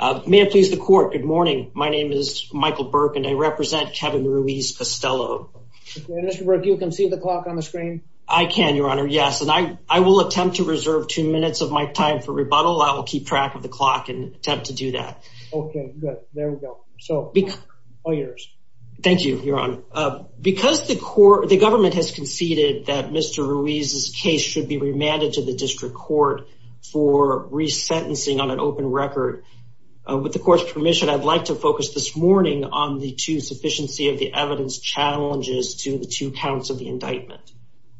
Uh, may it please the court. Good morning. My name is Michael Burke and I represent Kevin Ruiz-Castelo. And Mr. Burke, you can see the clock on the screen? I can, your honor. Yes. And I, I will attempt to reserve two minutes of my time for rebuttal. I will keep track of the clock and attempt to do that. Okay, good. There we go. So, all yours. Thank you, your honor. Uh, because the court, the government has conceded that Mr. Ruiz's case should be remanded to the district court for resentencing on an open record. Uh, with the court's permission, I'd like to focus this morning on the two sufficiency of the evidence challenges to the two counts of the indictment.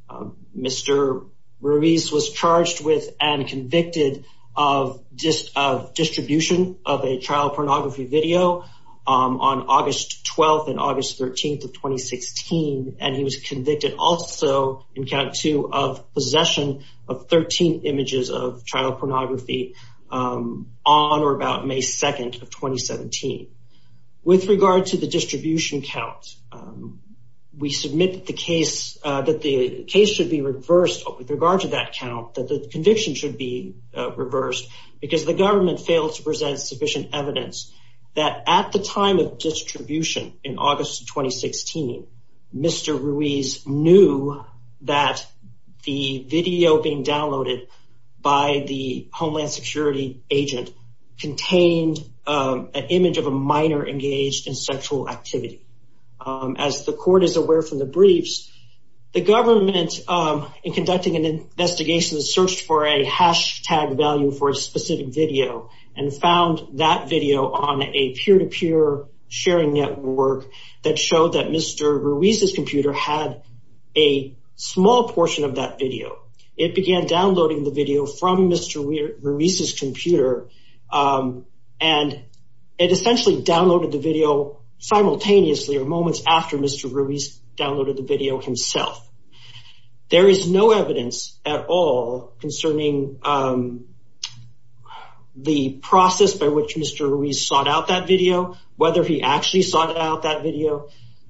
Uh, Mr. Ruiz was charged with and convicted of dist, of distribution of a trial pornography video, um, on August 12th and August 13th of 2016. And he was convicted also in count two of possession of 13 images of child pornography, um, on or about May 2nd of 2017. With regard to the distribution count, um, we submit the case, uh, that the case should be reversed with regard to that count, that the conviction should be, uh, reversed because the government failed to present sufficient evidence that at the time of distribution in August of 2016, Mr. Ruiz knew that the video being downloaded by the Homeland Security agent contained, um, an image of a minor engaged in sexual activity. Um, as the court is aware from the briefs, the government, um, in conducting an investigation, searched for a hashtag value for a specific video and found that video on a peer-to-peer sharing network that showed that Mr. Ruiz's computer had a small portion of that video. It began downloading the video from Mr. Ruiz's computer. Um, and it essentially downloaded the video simultaneously or moments after Mr. Ruiz downloaded the video himself. There is no evidence at all concerning, um, the process by which Mr. Ruiz sought out that video, whether he actually sought out that video.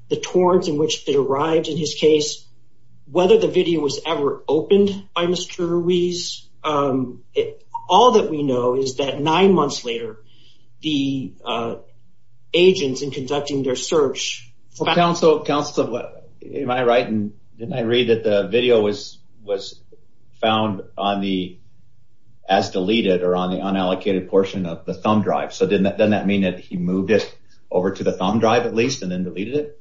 The torrent in which it arrived in his case, whether the video was ever opened by Mr. Ruiz, um, it, all that we know is that nine months later, the, uh, agents in conducting their search for counsel. Counselor, am I right? And didn't I read that the video was, was found on the, as deleted or on the unallocated portion of the thumb drive. So didn't that, doesn't that mean that he moved it over to the thumb drive at that point and then deleted it?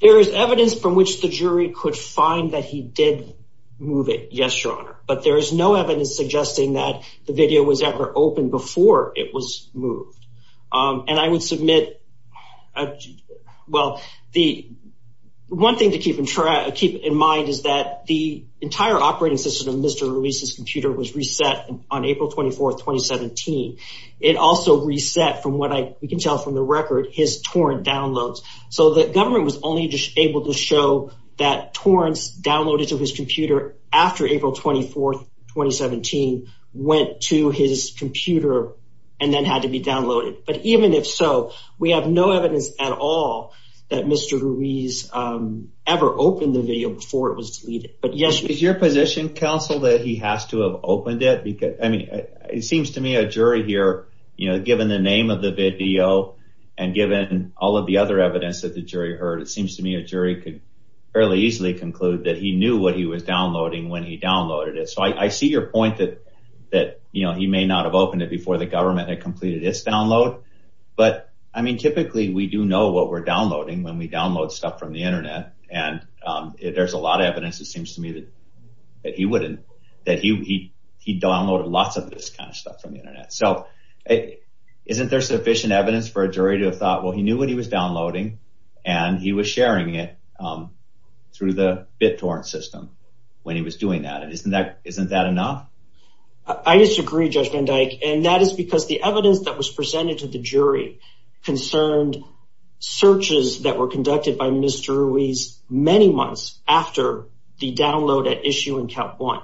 There is evidence from which the jury could find that he did move it. Yes, Your Honor, but there is no evidence suggesting that the video was ever opened before it was moved. Um, and I would submit, well, the one thing to keep in track, keep in mind is that the entire operating system of Mr. Ruiz's computer was reset on April 24th, 2017. It also reset from what I, we can tell from the record his torrent downloads. So the government was only just able to show that torrents downloaded to his computer after April 24th, 2017 went to his computer and then had to be downloaded. But even if so, we have no evidence at all that Mr. Ruiz, um, ever opened the video before it was deleted. But yes, Is your position counsel that he has to have opened it? I mean, it seems to me a jury here, you know, given the name of the video and given all of the other evidence that the jury heard, it seems to me a jury could fairly easily conclude that he knew what he was downloading when he downloaded it. So I see your point that, that, you know, he may not have opened it before the government had completed its download. But I mean, typically we do know what we're downloading when we download stuff from the internet. And, um, there's a lot of evidence. It seems to me that, that he wouldn't, that he, he, he downloaded lots of this kind of stuff from the internet. So isn't there sufficient evidence for a jury to have thought, well, he knew what he was downloading and he was sharing it, um, through the BitTorrent system when he was doing that. And isn't that, isn't that enough? I disagree Judge Van Dyke. And that is because the evidence that was presented to the jury concerned searches that were conducted by Mr. Ruiz many months after the download at issue in count one,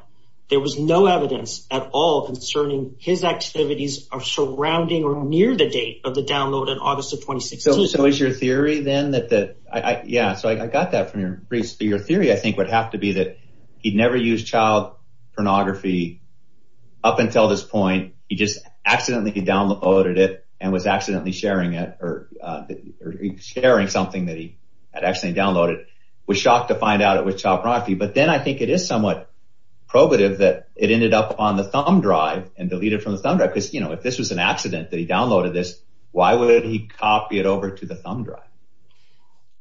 there was no evidence at all concerning his activities of surrounding or near the date of the download in August of 2016. So is your theory then that, that I, yeah. So I got that from your briefs. Your theory I think would have to be that he'd never used child pornography up until this point. He just accidentally downloaded it and was accidentally sharing it or, uh, sharing something that he had actually downloaded, was shocked to find out it was child pornography. But then I think it is somewhat probative that it ended up on the thumb drive and deleted from the thumb drive. Cause you know, if this was an accident that he downloaded this, why would he copy it over to the thumb drive?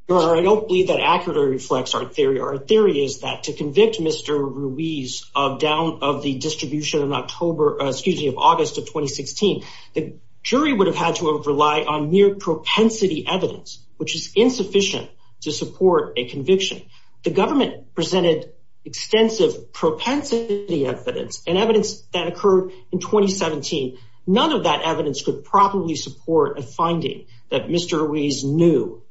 Your Honor, I don't believe that accurately reflects our theory. Our theory is that to convict Mr. Ruiz of down of the distribution of October, excuse me, of August of 2016, the jury would have had to rely on mere propensity evidence, which is insufficient to support a conviction. The government presented extensive propensity evidence and evidence that occurred in 2017. None of that evidence could probably support a finding that Mr. Ruiz knew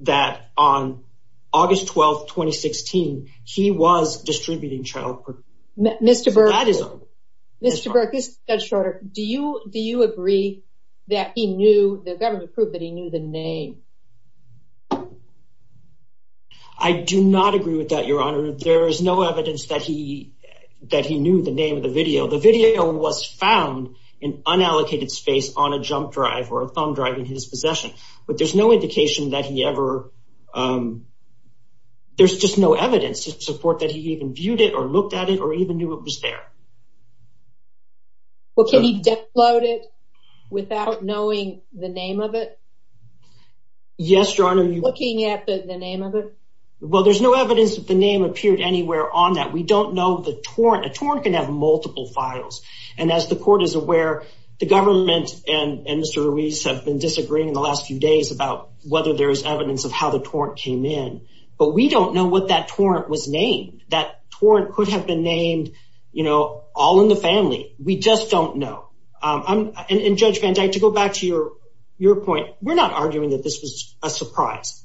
that on August 12th, 2016, he was distributing child pornography. Mr. Burke, Mr. Burke, this is Judge Schroeder. Do you, do you agree that he knew, the government proved that he knew the name? I do not agree with that, Your Honor. There is no evidence that he, that he knew the name of the video. The video was found in unallocated space on a jump drive or a thumb drive in his possession, but there's no indication that he ever, um, there's just no evidence to support that he even viewed it or looked at it or even knew it was there. Well, can he download it without knowing the name of it? Yes, Your Honor. Looking at the name of it? Well, there's no evidence that the name appeared anywhere on that. We don't know the torrent. A torrent can have multiple files. And as the court is aware, the government and Mr. Ruiz have been disagreeing in the last few days about whether there's evidence of how that torrent could have been named, you know, all in the family. We just don't know. Um, and Judge Van Dyke, to go back to your, your point, we're not arguing that this was a surprise.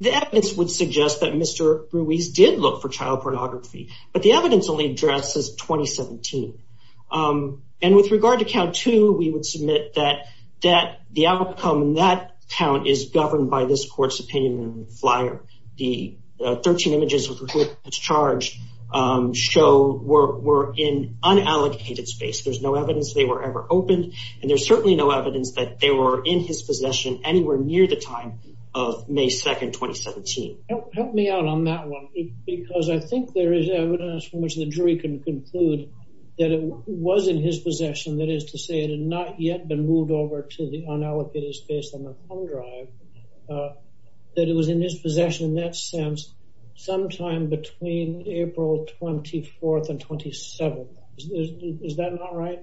The evidence would suggest that Mr. Ruiz did look for child pornography, but the evidence only addresses 2017. Um, and with regard to count two, we would submit that, that the outcome in that count is governed by this court's opinion in the flyer, the 13 images charged, um, show we're, we're in unallocated space. There's no evidence they were ever opened. And there's certainly no evidence that they were in his possession anywhere near the time of May 2nd, 2017. Help me out on that one, because I think there is evidence from which the jury can conclude that it was in his possession. That is to say it had not yet been moved over to the unallocated space on the time between April 24th and 27th. Is that not right?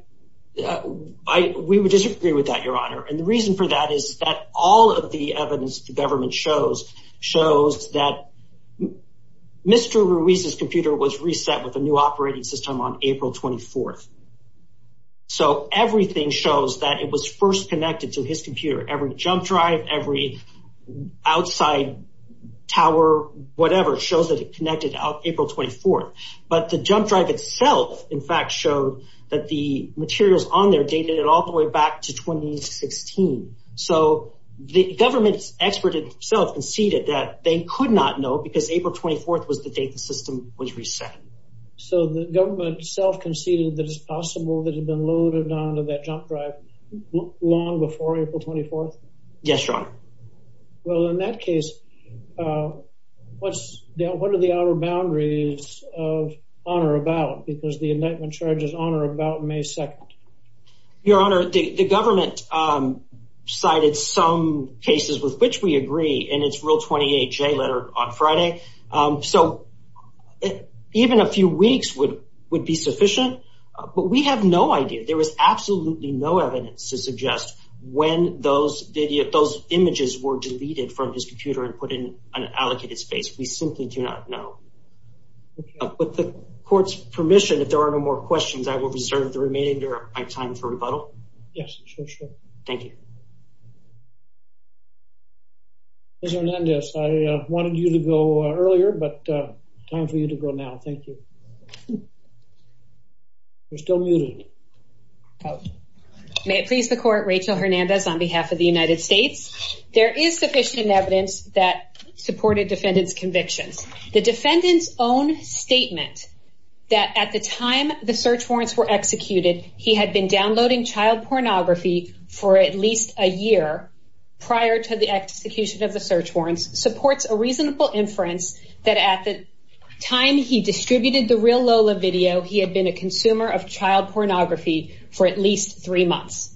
Yeah, I, we would disagree with that, Your Honor. And the reason for that is that all of the evidence the government shows, shows that Mr. Ruiz's computer was reset with a new operating system on April 24th. So everything shows that it was first connected to his computer. Every jump drive, every outside tower, whatever, shows that it connected out April 24th, but the jump drive itself, in fact, showed that the materials on there dated it all the way back to 2016. So the government's expert itself conceded that they could not know because April 24th was the date the system was reset. So the government itself conceded that it's possible that it had been loaded down to that jump drive long before April 24th? Yes, Your Honor. Well, in that case, what's the, what are the outer boundaries of honor about? Because the indictment charges honor about May 2nd. Your Honor, the government cited some cases with which we agree in its Rule 28J letter on Friday. So even a few weeks would be sufficient, but we have no idea. There was absolutely no evidence to suggest when those images were deleted from his computer and put in an allocated space. We simply do not know. With the court's permission, if there are no more questions, I will reserve the remainder of my time for rebuttal. Yes, sure, sure. Thank you. Mr. Hernandez, I wanted you to go earlier, but time for you to go now. Thank you. You're still muted. Oh, may it please the court. Rachel Hernandez on behalf of the United States. There is sufficient evidence that supported defendant's convictions. The defendant's own statement that at the time the search warrants were executed, he had been downloading child pornography for at least a year prior to the execution of the search warrants supports a reasonable inference that at the time he for at least three months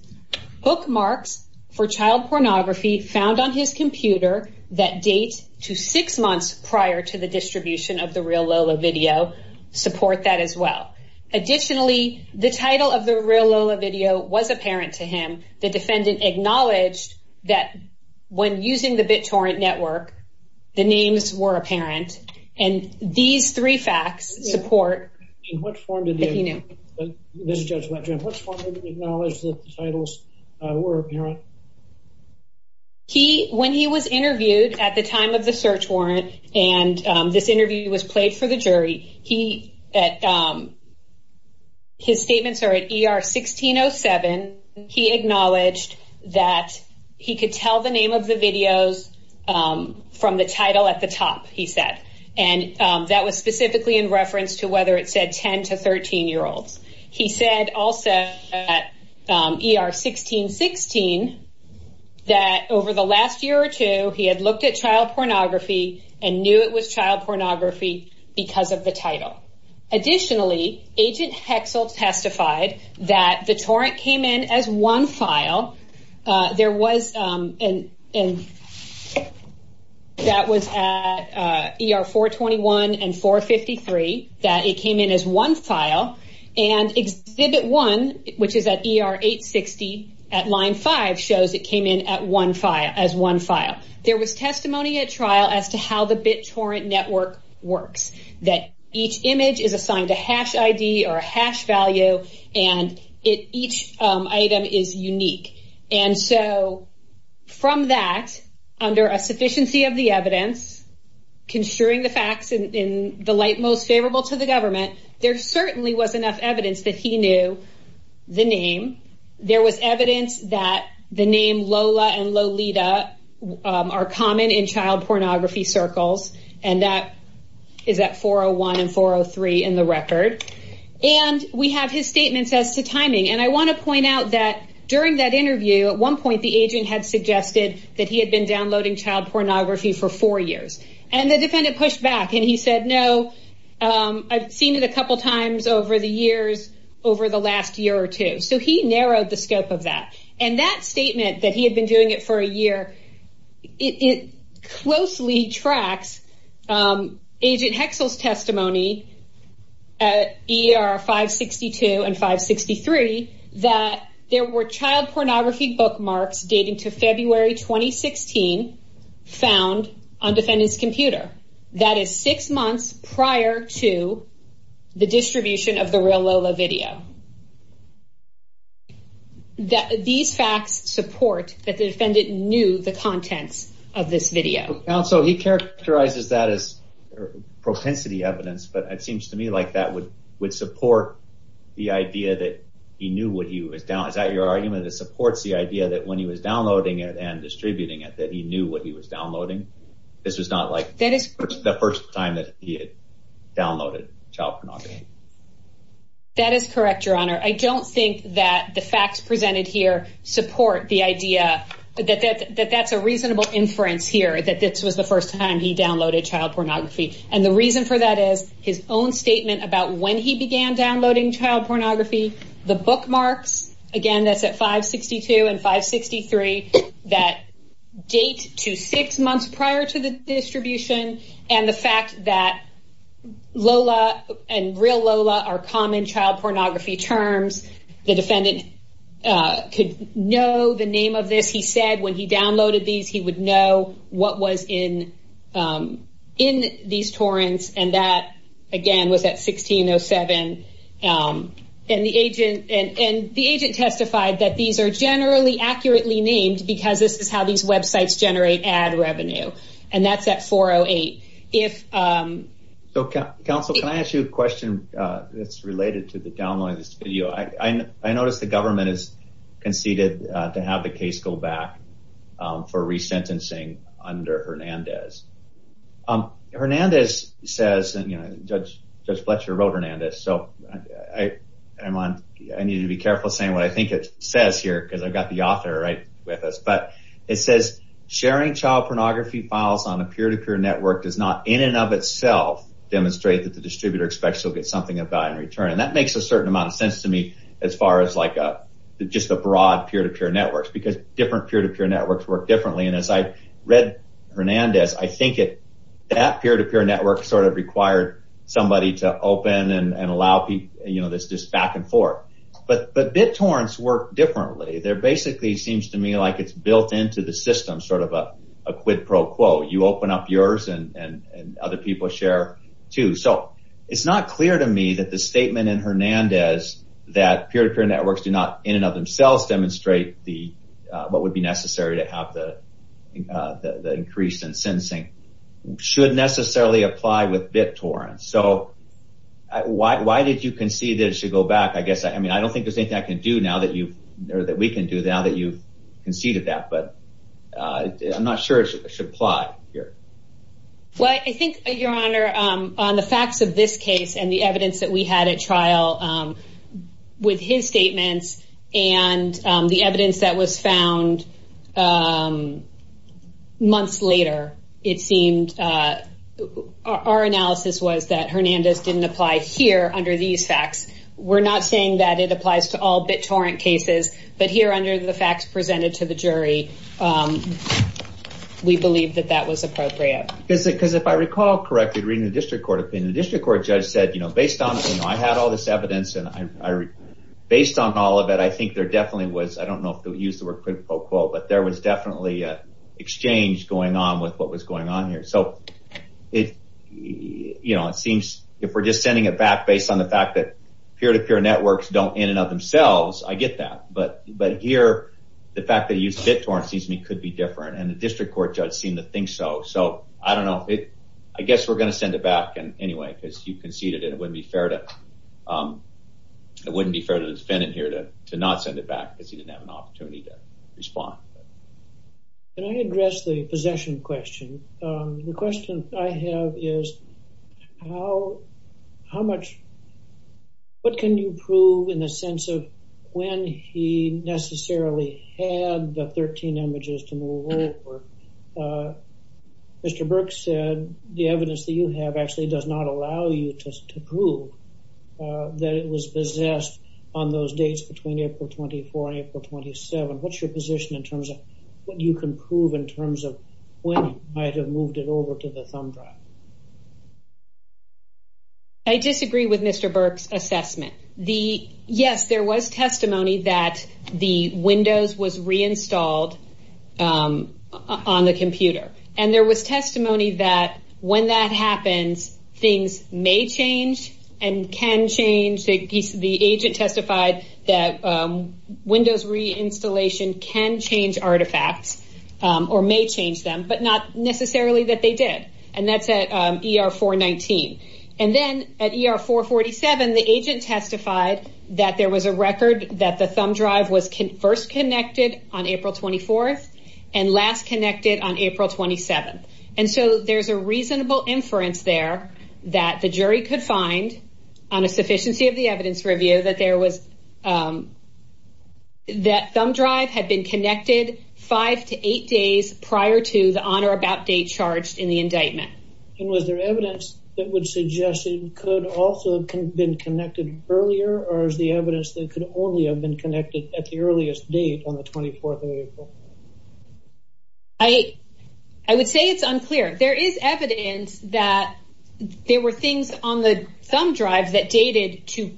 bookmarks for child pornography found on his computer that date to six months prior to the distribution of the real Lola video support that as well. Additionally, the title of the real Lola video was apparent to him. The defendant acknowledged that when using the BitTorrent network, the names were apparent and these three facts support. In what form did you know? Mr. Judge, let's acknowledge the titles were apparent. He when he was interviewed at the time of the search warrant and this interview was played for the jury, he at. His statements are at ER 1607, he acknowledged that he could tell the name of the videos from the title at the top, he said, and that was specifically in reference to whether it said 10 to 13 year olds. He said also at ER 1616 that over the last year or two, he had looked at child pornography and knew it was child pornography because of the title. Additionally, Agent Hexel testified that the torrent came in as one file. There was an and that was at ER 421 and 453 that it came in as one file. And exhibit one, which is at ER 860 at line five, shows it came in at one file as one file. There was testimony at trial as to how the BitTorrent network works, that each image is assigned a hash ID or a hash value and it each item is unique. And so from that, under a sufficiency of the evidence, construing the facts in the most favorable to the government, there certainly was enough evidence that he knew the name. There was evidence that the name Lola and Lolita are common in child pornography circles. And that is at 401 and 403 in the record. And we have his statements as to timing. And I want to point out that during that interview, at one point the agent had suggested that he had been downloading child pornography for four years. And the defendant pushed back and he said, no, I've seen it a couple of times over the years, over the last year or two. So he narrowed the scope of that. And that statement that he had been doing it for a year, it closely tracks Agent Hexel's testimony at ER 562 and 563 that there were child pornography bookmarks dating to February 2016 found on defendant's computer. That is six months prior to the distribution of the real Lola video. These facts support that the defendant knew the contents of this video. So he characterizes that as propensity evidence. But it seems to me like that would support the idea that he knew what he was downloading. Is that your argument? That it supports the idea that when he was downloading it and distributing it, that he knew what he was downloading? This was not like the first time that he had downloaded child pornography. That is correct, Your Honor. I don't think that the facts presented here support the idea that that's a reasonable inference here, that this was the first time he downloaded child pornography. And the reason for that is his own statement about when he began downloading child pornography. The bookmarks, again, that's at 562 and 563, that date to six months prior to the distribution and the fact that Lola and real Lola are common child pornography terms. The defendant could know the name of this. He said when he downloaded these, he would know what was in these torrents. And that, again, was at 1607 and the agent and the agent testified that these are generally accurately named because this is how these websites generate ad revenue. And that's at 408. So, counsel, can I ask you a question that's related to the downloading of this video? I noticed the government has conceded to have the case go back for resentencing under Hernandez. Judge Fletcher wrote Hernandez, so I need to be careful saying what I think it says here because I've got the author right with us. But it says sharing child pornography files on a peer-to-peer network does not, in and of itself, demonstrate that the distributor expects he'll get something of value in return. And that makes a certain amount of sense to me as far as just a broad peer-to-peer networks because different peer-to-peer networks work differently. And as I read Hernandez, I think that peer-to-peer network sort of required somebody to open and allow this just back and forth. But BitTorrents work differently. There basically seems to me like it's built into the system, sort of a quid pro quo. You open up yours and other people share, too. So it's not clear to me that the statement in Hernandez that peer-to-peer networks do not, in and of themselves, demonstrate what would be necessary to have the increase in sensing should necessarily apply with BitTorrents. So why did you concede that it should go back? I guess I mean, I don't think there's anything I can do now that you know that we can do now that you've conceded that. But I'm not sure it should apply here. Well, I think, Your Honor, on the facts of this case and the evidence that we had at the time, and the evidence that was found months later, it seemed, our analysis was that Hernandez didn't apply here under these facts. We're not saying that it applies to all BitTorrent cases, but here under the facts presented to the jury, we believe that that was appropriate. Because if I recall correctly, reading the district court opinion, the district court judge said, you know, based on, you know, I had all this evidence and I, based on all of it, I think there definitely was, I don't know if they'll use the word quote-unquote, but there was definitely an exchange going on with what was going on here. So it, you know, it seems if we're just sending it back based on the fact that peer-to-peer networks don't, in and of themselves, I get that. But here, the fact that you use BitTorrents could be different. And the district court judge seemed to think so. So I don't know if it, I guess we're going to send it back anyway, because you conceded it. It wouldn't be fair to, it wouldn't be fair to the defendant here to not send it back because he didn't have an opportunity to respond. Can I address the possession question? The question I have is how, how much, what can you prove in the sense of when he Mr. Burke said the evidence that you have actually does not allow you to prove that it was possessed on those dates between April 24 and April 27. What's your position in terms of what you can prove in terms of when you might have moved it over to the thumb drive? I disagree with Mr. Burke's assessment. The, yes, there was testimony that the Windows was reinstalled on the computer and there was testimony that when that happens, things may change and can change. The agent testified that Windows reinstallation can change artifacts or may change them, but not necessarily that they did. And that's at ER 419. And then at ER 447, the agent testified that there was a record that the thumb drive was last connected on April 27th. And so there's a reasonable inference there that the jury could find on a sufficiency of the evidence review that there was, that thumb drive had been connected five to eight days prior to the on or about date charged in the indictment. And was there evidence that would suggest it could also have been connected earlier or is the evidence that could only have been connected at the earliest date on the 24th of April? I, I would say it's unclear. There is evidence that there were things on the thumb drive that dated to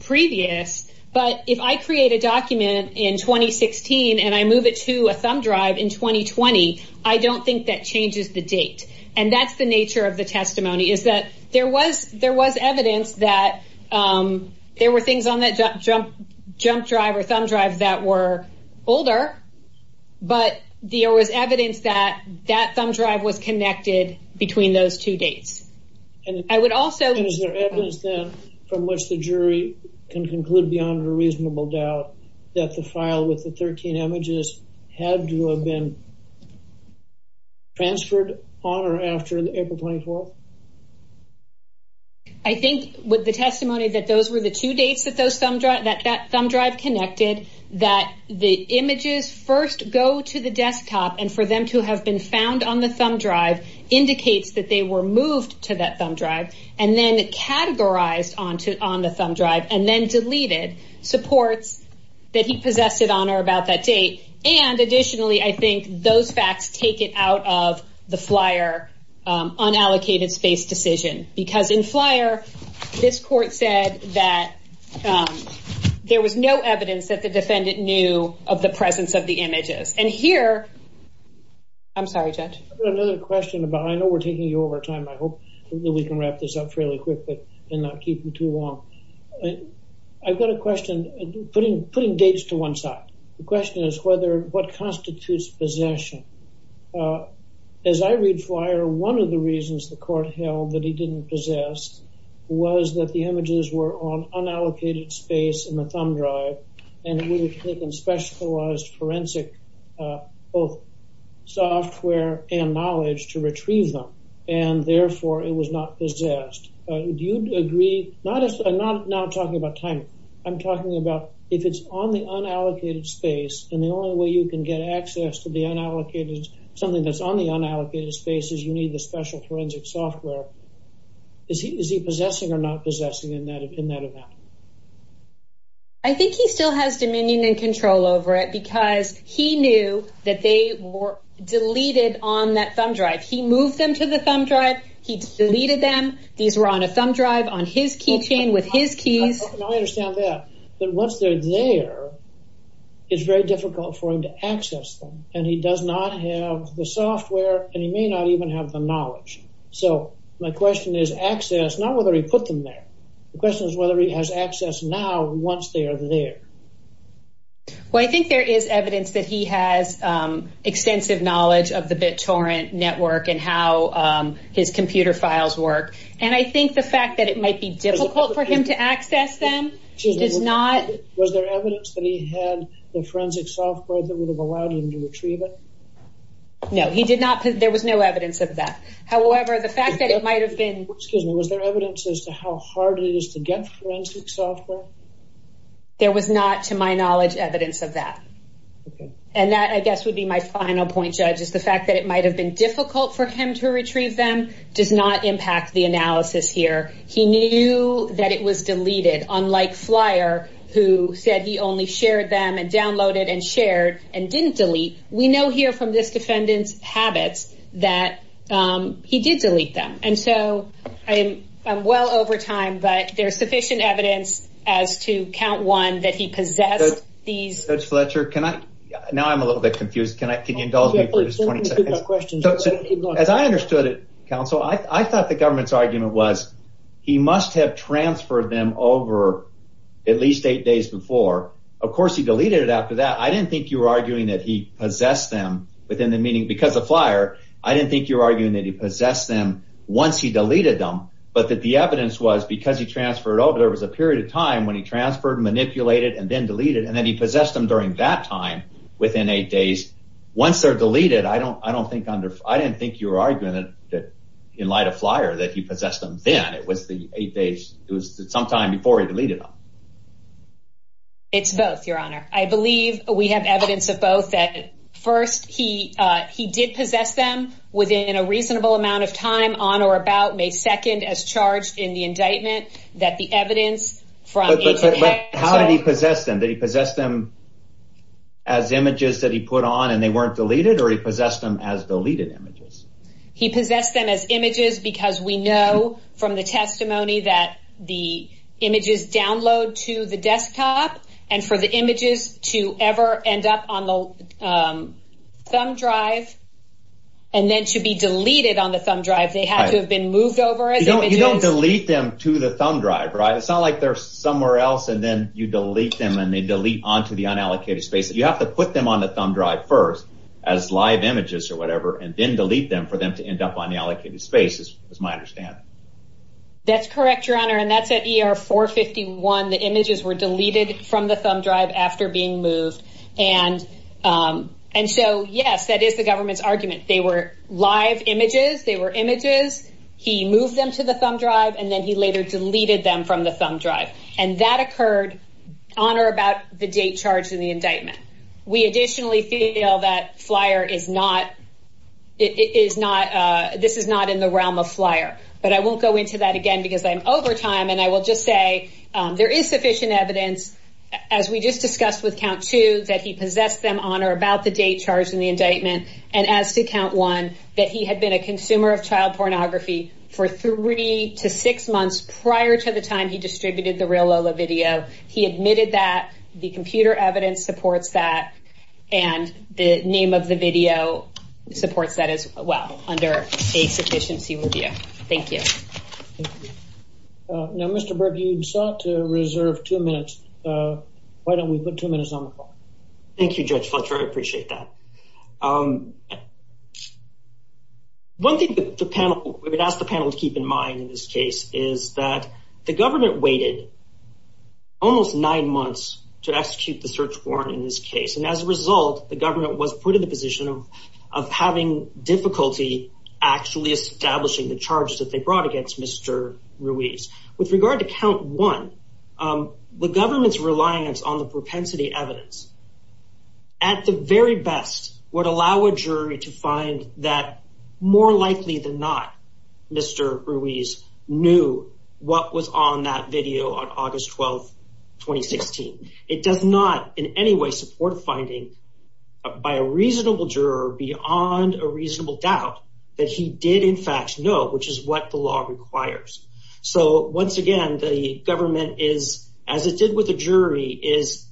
previous. But if I create a document in 2016 and I move it to a thumb drive in 2020, I don't think that changes the date. And that's the nature of the testimony is that there was there was evidence that there were things on that jump, jump, jump drive or thumb drive that were older, but there was evidence that that thumb drive was connected between those two dates. And I would also. And is there evidence then from which the jury can conclude beyond a reasonable doubt that the file with the 13 images had to have been transferred on or after April 24th? I think with the testimony that those were the two dates that those thumb drive, that that thumb drive connected, that the images first go to the desktop and for them to have been found on the thumb drive indicates that they were moved to that thumb drive and then categorized onto on the thumb drive and then deleted supports that he possessed it on or about that date. And additionally, I think those facts take it out of the Flyer unallocated space decision because in Flyer, this court said that there was no evidence that the defendant knew of the presence of the images. And here. I'm sorry, judge, another question about I know we're taking you over time, I hope that we can wrap this up fairly quickly and not keep you too long. I've got a question putting putting dates to one side. The question is whether what constitutes possession. As I read Flyer, one of the reasons the court held that he didn't possess was that the images were on unallocated space in the thumb drive and it would have taken specialized forensic both software and knowledge to retrieve them. And therefore, it was not possessed. Do you agree? Not as I'm not now talking about time. I'm talking about if it's on the unallocated space and the only way you can get access to the unallocated, something that's on the unallocated spaces, you need the special forensic software. Is he is he possessing or not possessing in that in that event? I think he still has dominion and control over it because he knew that they were deleted on that thumb drive. He moved them to the thumb drive. He deleted them. These were on a thumb drive on his keychain with his keys. I understand that. But once they're there, it's very difficult for him to access them. And he does not have the software and he may not even have the knowledge. So my question is access, not whether he put them there. The question is whether he has access now once they are there. Well, I think there is evidence that he has extensive knowledge of the BitTorrent network and how his computer files work. And I think the fact that it might be difficult for him to access them is not. Was there evidence that he had the forensic software that would have allowed him to retrieve it? No, he did not. There was no evidence of that. However, the fact that it might have been. Excuse me. Was there evidence as to how hard it is to get forensic software? There was not, to my knowledge, evidence of that, and that, I guess, would be my final point, Judge, is the fact that it might have been difficult for him to retrieve them does not impact the analysis here. He knew that it was deleted, unlike Flyer, who said he only shared them and downloaded and shared and didn't delete. We know here from this defendant's habits that he did delete them. And so I am well over time, but there's sufficient evidence as to count one that he possessed these. Judge Fletcher, can I now I'm a little bit confused. Can I can you indulge me for just 20 seconds? Questions. As I understood it, counsel, I thought the government's argument was he must have transferred them over at least eight days before. Of course, he deleted it after that. I didn't think you were arguing that he possessed them within the meeting because of Flyer. I didn't think you were arguing that he possessed them once he deleted them, but that the evidence was because he transferred over there was a period of time when he transferred, manipulated and then deleted. And then he possessed them during that time within eight days. Once they're deleted, I don't I don't think I didn't think you were arguing that in light of Flyer, that he possessed them then. It was the eight days. It was sometime before he deleted them. It's both, your honor, I believe we have evidence of both that first, he he did possess them within a reasonable amount of time on or about May 2nd, as charged in the indictment, that the evidence from how did he possess them? He possessed them. As images that he put on and they weren't deleted or he possessed them as deleted images, he possessed them as images, because we know from the testimony that the images download to the desktop and for the images to ever end up on the thumb drive and then to be deleted on the thumb drive, they had to have been moved over. You don't delete them to the thumb drive, right? It's not like they're somewhere else and then you delete them and they delete onto the unallocated space. You have to put them on the thumb drive first as live images or whatever, and then delete them for them to end up on the allocated space, as far as I understand. That's correct, your honor, and that's at ER 451. The images were deleted from the thumb drive after being moved. And and so, yes, that is the government's argument. They were live images. They were images. He moved them to the thumb drive and then he later deleted them from the thumb drive and that occurred on or about the date charged in the indictment. We additionally feel that Flyer is not it is not this is not in the realm of Flyer, but I won't go into that again because I'm over time and I will just say there is sufficient evidence, as we just discussed with count two, that he possessed them on or about the date charged in the indictment. And as to count one, that he had been a consumer of child pornography for three to six months prior to the time he distributed the Real Lola video. He admitted that the computer evidence supports that and the name of the video supports that as well under a sufficiency review. Thank you. Now, Mr. Berg, you sought to reserve two minutes. Why don't we put two minutes on the call? Thank you, Judge Fletcher. I appreciate that. One thing that the panel would ask the panel to keep in mind in this case is that the government waited almost nine months to execute the search warrant in this case. And as a result, the government was put in the position of of having difficulty actually establishing the charges that they brought against Mr. Ruiz. With regard to count one, the government's reliance on the propensity evidence. At the very best, would allow a jury to find that more likely than not, Mr. Ruiz knew what was on that video on August 12th, 2016. It does not in any way support a finding by a reasonable juror beyond a reasonable doubt that he did, in fact, know, which is what the law requires. So once again, the government is, as it did with the jury, is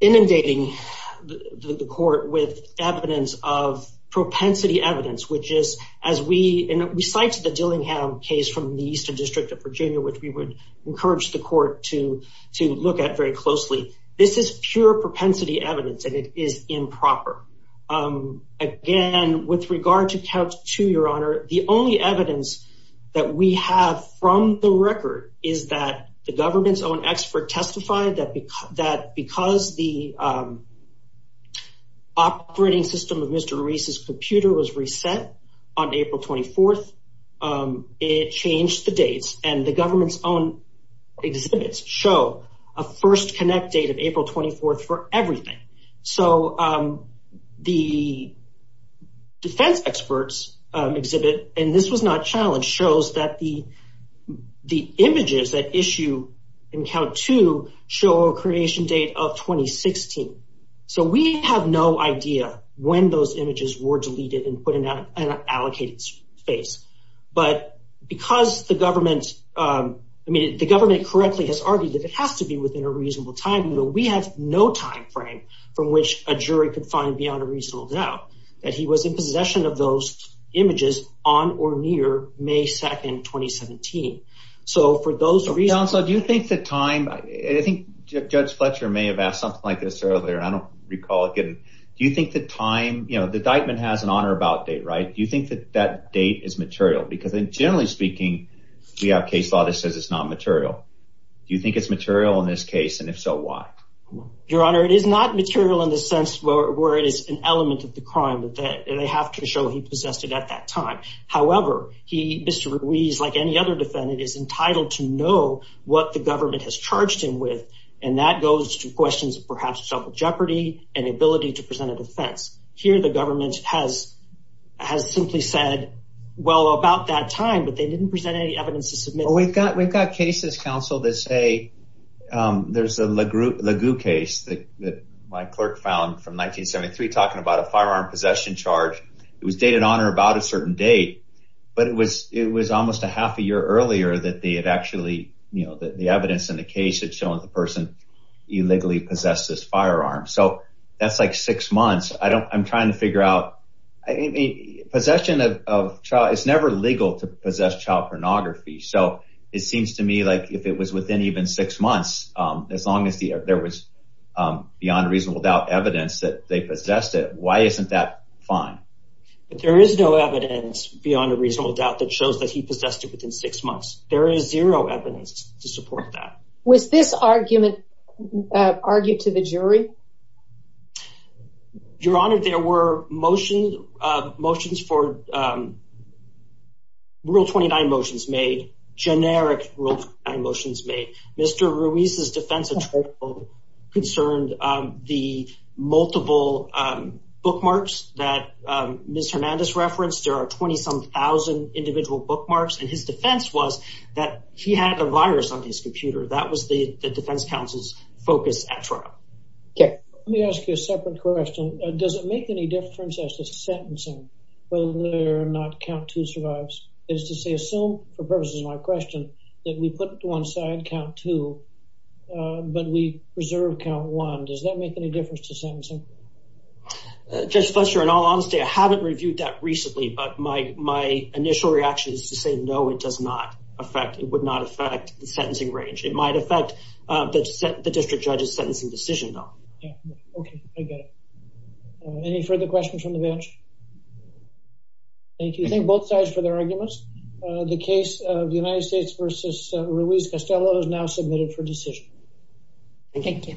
inundating the court with evidence of propensity evidence, which is, as we cite the Dillingham case from the Eastern District of Virginia, which we would encourage the court to to look at very closely, this is pure propensity evidence and it is improper. Again, with regard to count two, Your Honor, the only evidence that we have from the record is that the government's own expert testified that because the operating system of Mr. Ruiz's computer was reset on April 24th, it changed the dates and the government's own exhibits show a first connect date of April 24th for everything. So the defense experts exhibit, and this was not challenged, shows that the the images that issue in count two show a creation date of 2016. So we have no idea when those images were deleted and put in an allocated space. But because the government, I mean, the government correctly has argued that it has to be within a reasonable time, but we have no time frame from which a jury could find beyond a reasonable doubt that he was in possession of those images on or near May 2nd, 2017. So for those reasons, so do you think the time, I think Judge Fletcher may have asked something like this earlier, and I don't recall it. Do you think the time, you know, the indictment has an on or about date, right? Do you think that that date is material? Because generally speaking, we have case law that says it's not material. Do you think it's material in this case? And if so, why? Your Honor, it is not material in the sense where it is an element of the crime that they have to show he possessed it at that time. However, he, Mr. Ruiz, like any other defendant, is entitled to know what the government has charged him with, and that goes to questions of perhaps self jeopardy and the ability to present a defense. Here, the government has simply said, well, about that time, but they didn't present any evidence to submit. Well, we've got cases, counsel, that say there's a LaGue case that my clerk found from 1973 talking about a firearm possession charge. It was dated on or about a certain date, but it was almost a half a year earlier that they had actually, you know, the evidence in the case had shown the person illegally possessed this firearm. So that's like six months. I don't, I'm trying to figure out, possession of child, it's never legal to possess child pornography. So it seems to me like if it was within even six months, as long as there was beyond reasonable doubt evidence that they possessed it, why isn't that fine? But there is no evidence beyond a reasonable doubt that shows that he possessed it within six months. There is zero evidence to support that. Was this argument argued to the jury? Your Honor, there were motions, motions for rule 29 motions made, generic rule 29 motions made. Mr. Ruiz's defense attorney concerned the multiple bookmarks that Ms. Hernandez referenced. There are 20 some thousand individual bookmarks. And his defense was that he had a virus on his computer. That was the defense counsel's focus at trial. Let me ask you a separate question. Does it make any difference as to sentencing whether or not count two survives? It is to say, assume for purposes of my question that we put it to one side, count two, but we preserve count one. Does that make any difference to sentencing? Judge Fletcher, in all honesty, I haven't reviewed that recently. But my initial reaction is to say, no, it does not affect, it would not affect the sentencing range. It might affect the district judge's sentencing decision, though. OK, I get it. Any further questions from the bench? Thank you. Thank both sides for their arguments. The case of the United States versus Ruiz-Castello is now submitted for decision. Thank you.